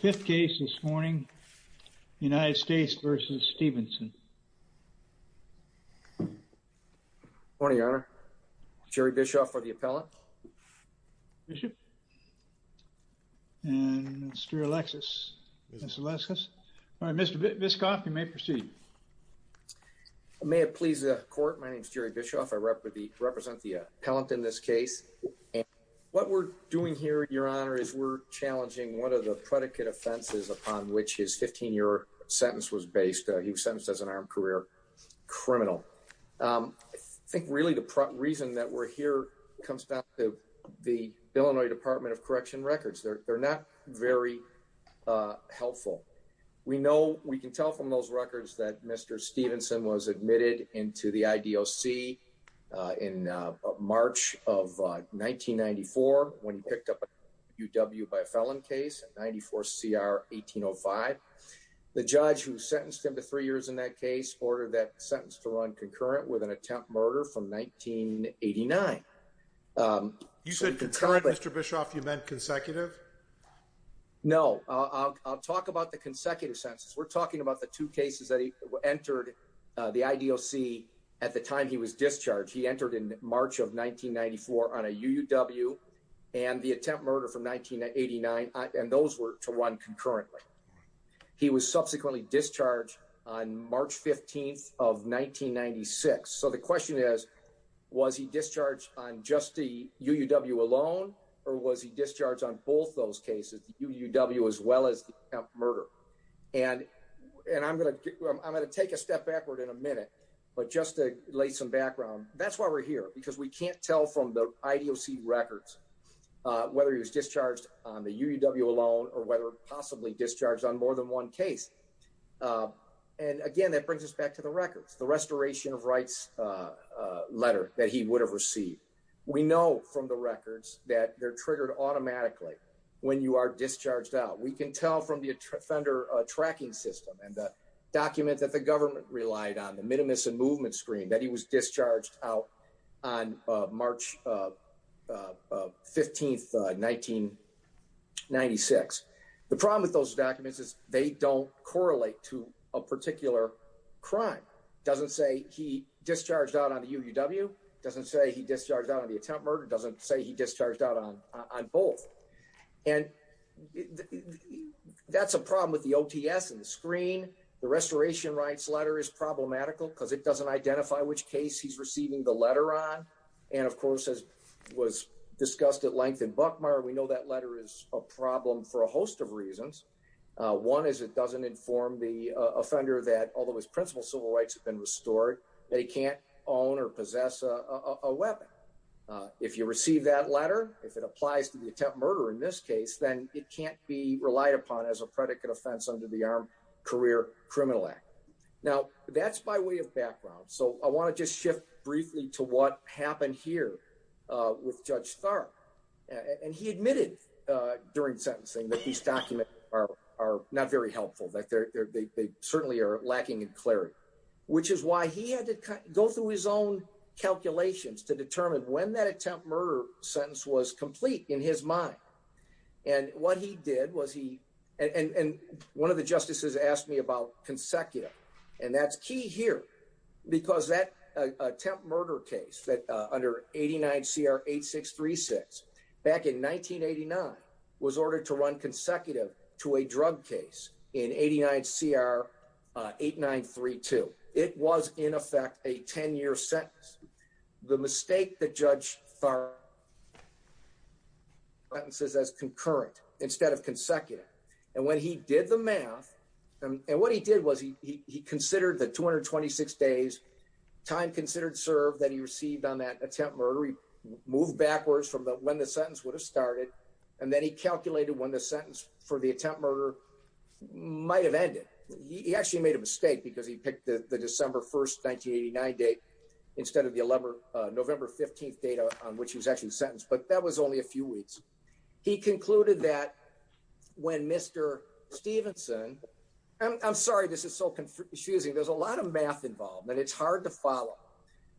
Fifth case this morning, United States v. Stevenson Morning, Your Honor. Jerry Bischoff for the appellant. Bishop. And Mr. Alexis. All right, Mr. Bischoff, you may proceed. May it please the court, my name is Jerry Bischoff. I represent the appellant in this case. What we're doing here, Your Honor, is we're challenging one of the predicate offenses upon which his 15-year sentence was based. He was sentenced as an armed career criminal. I think really the reason that we're here comes back to the Illinois Department of Correction records. They're not very helpful. We know, we can tell from those records that Mr. Stevenson was admitted into the IDOC in March of 1994 when he picked up a UW by a felon case, 94 CR 1805. The judge who sentenced him to three years in that case ordered that sentence to run concurrent with an attempt murder from 1989. You said concurrent, Mr. Bischoff, you meant consecutive? No, I'll talk about the consecutive sentences. We're talking about the two cases that he entered the IDOC at the time he was discharged. He entered in March of 1994 on a UUW and the attempt murder from 1989 and those were to run concurrently. He was subsequently discharged on March 15th of 1996. So the question is, was he discharged on just the UUW alone or was he discharged on both those cases, the UUW as well as the murder? And I'm gonna take a step backward in a minute, but just to lay some background, that's why we're here because we can't tell from the IDOC records whether he was discharged on the UUW alone or whether possibly discharged on more than one case. And again, that brings us back to the records, the restoration of rights letter that he would have received. We know from the records that they're triggered automatically when you are discharged out. We can tell from the offender tracking system and the document that the government relied on, the minimus and movement screen, that he was discharged out on March 15th 1996. The problem with those documents is they don't correlate to a particular crime. Doesn't say he discharged out on the UUW, doesn't say he discharged out on the attempt murder, doesn't say he discharged out on on both. And that's a problem with the OTS and the screen. The restoration rights letter is problematical because it doesn't identify which case he's receiving the letter on. And of course, as was discussed at length in Buckmeyer, we know that letter is a problem for a host of reasons. One is it doesn't inform the offender that although his principal civil rights have been restored, they can't own or possess a weapon. If you receive that letter, if it applies to the attempt murder in this case, then it can't be relied upon as a criminal act. Now, that's by way of background. So I want to just shift briefly to what happened here with Judge Tharp. And he admitted during sentencing that these documents are not very helpful, that they certainly are lacking in clarity, which is why he had to go through his own calculations to determine when that attempt murder sentence was complete in his mind. And what he did was he and one of the justices asked me about consecutive and that's key here because that attempt murder case that under 89 CR 8636 back in 1989 was ordered to run consecutive to a drug case in 89 CR 8932. It was in a 10 year sentence. The mistake that Judge Tharp sentences as concurrent instead of consecutive. And when he did the math and what he did was he considered the 226 days time considered serve that he received on that attempt murder. He moved backwards from when the sentence would have started. And then he calculated when the sentence for the attempt murder might have ended. He actually made a mistake because he instead of the 11 November 15th data on which he was actually sentenced. But that was only a few weeks. He concluded that when Mr Stevenson, I'm sorry, this is so confusing. There's a lot of math involved and it's hard to follow.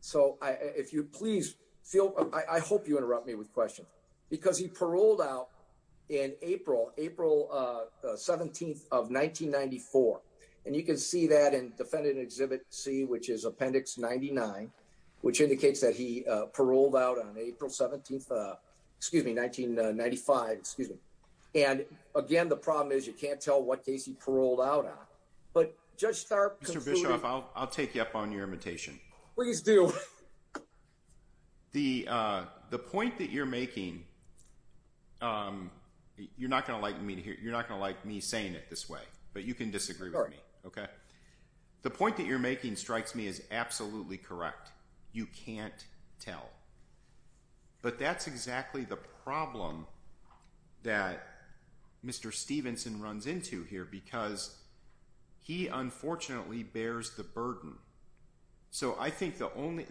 So if you please feel, I hope you interrupt me with questions because he paroled out in April, April 17th of 1994. And you can see that in defendant exhibit C, which is appendix 99, which indicates that he paroled out on April 17th. Uh, excuse me, 1995. Excuse me. And again, the problem is you can't tell what case he paroled out on. But just start, Mr Bishop, I'll take you up on your imitation. Please do. The, uh, the point that you're making, um, you're not gonna like me to hear. You're not gonna like me saying it this way, but you can disagree with me. Okay. The point that you're making strikes me is absolutely correct. You can't tell. But that's exactly the problem that Mr Stevenson runs into here because he unfortunately bears the burden. So I think the only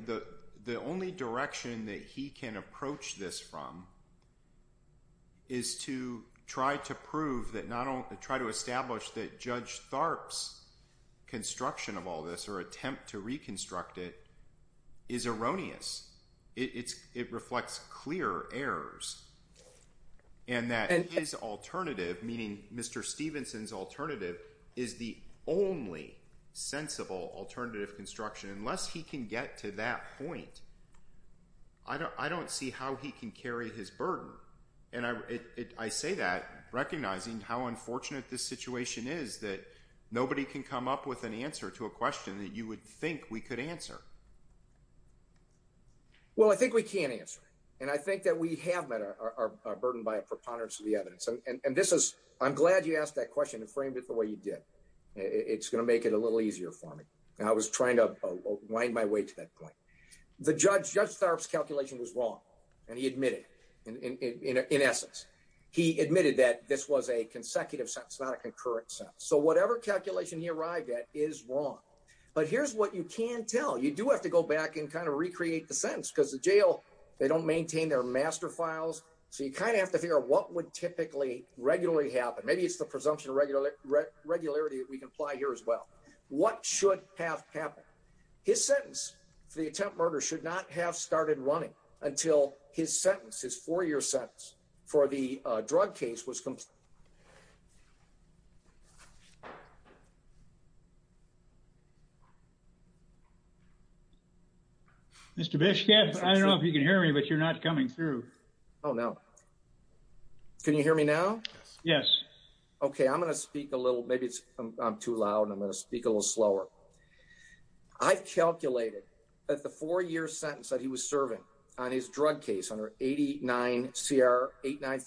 the only direction that he can approach this from is to try to prove that not only try to establish that Judge Tharp's construction of all this or attempt to reconstruct it is erroneous. It's it reflects clear errors and that his alternative, meaning Mr Stevenson's alternative, is the only sensible alternative construction. Unless he can get to that point, I don't see how he can carry his burden. And I say that recognizing how unfortunate this situation is that nobody can come up with an answer to a question that you would think we could answer. Well, I think we can answer, and I think that we have met our burden by a preponderance of the evidence. And this is I'm glad you asked that question and you did. It's gonna make it a little easier for me. I was trying to wind my way to that point. The judge, Judge Tharp's calculation was wrong, and he admitted in essence, he admitted that this was a consecutive sentence, not a concurrent sentence. So whatever calculation he arrived at is wrong. But here's what you can tell. You do have to go back and kind of recreate the sentence because the jail they don't maintain their master files. So you kind of have to figure out what would typically regularly happen. Maybe it's the presumption of regular regularity that we can apply here as well. What should have happened? His sentence for the attempt murder should not have started running until his sentence. His four year sentence for the drug case was complete. Mr Bishop, I don't know if you can hear me, but you're not coming through. Oh, no. Can you hear me now? Yes. Okay, I'm gonna speak a little. Maybe it's I'm too loud. I'm gonna speak a little slower. I've calculated that the four year sentence that he was serving on his drug case under 89 CR 89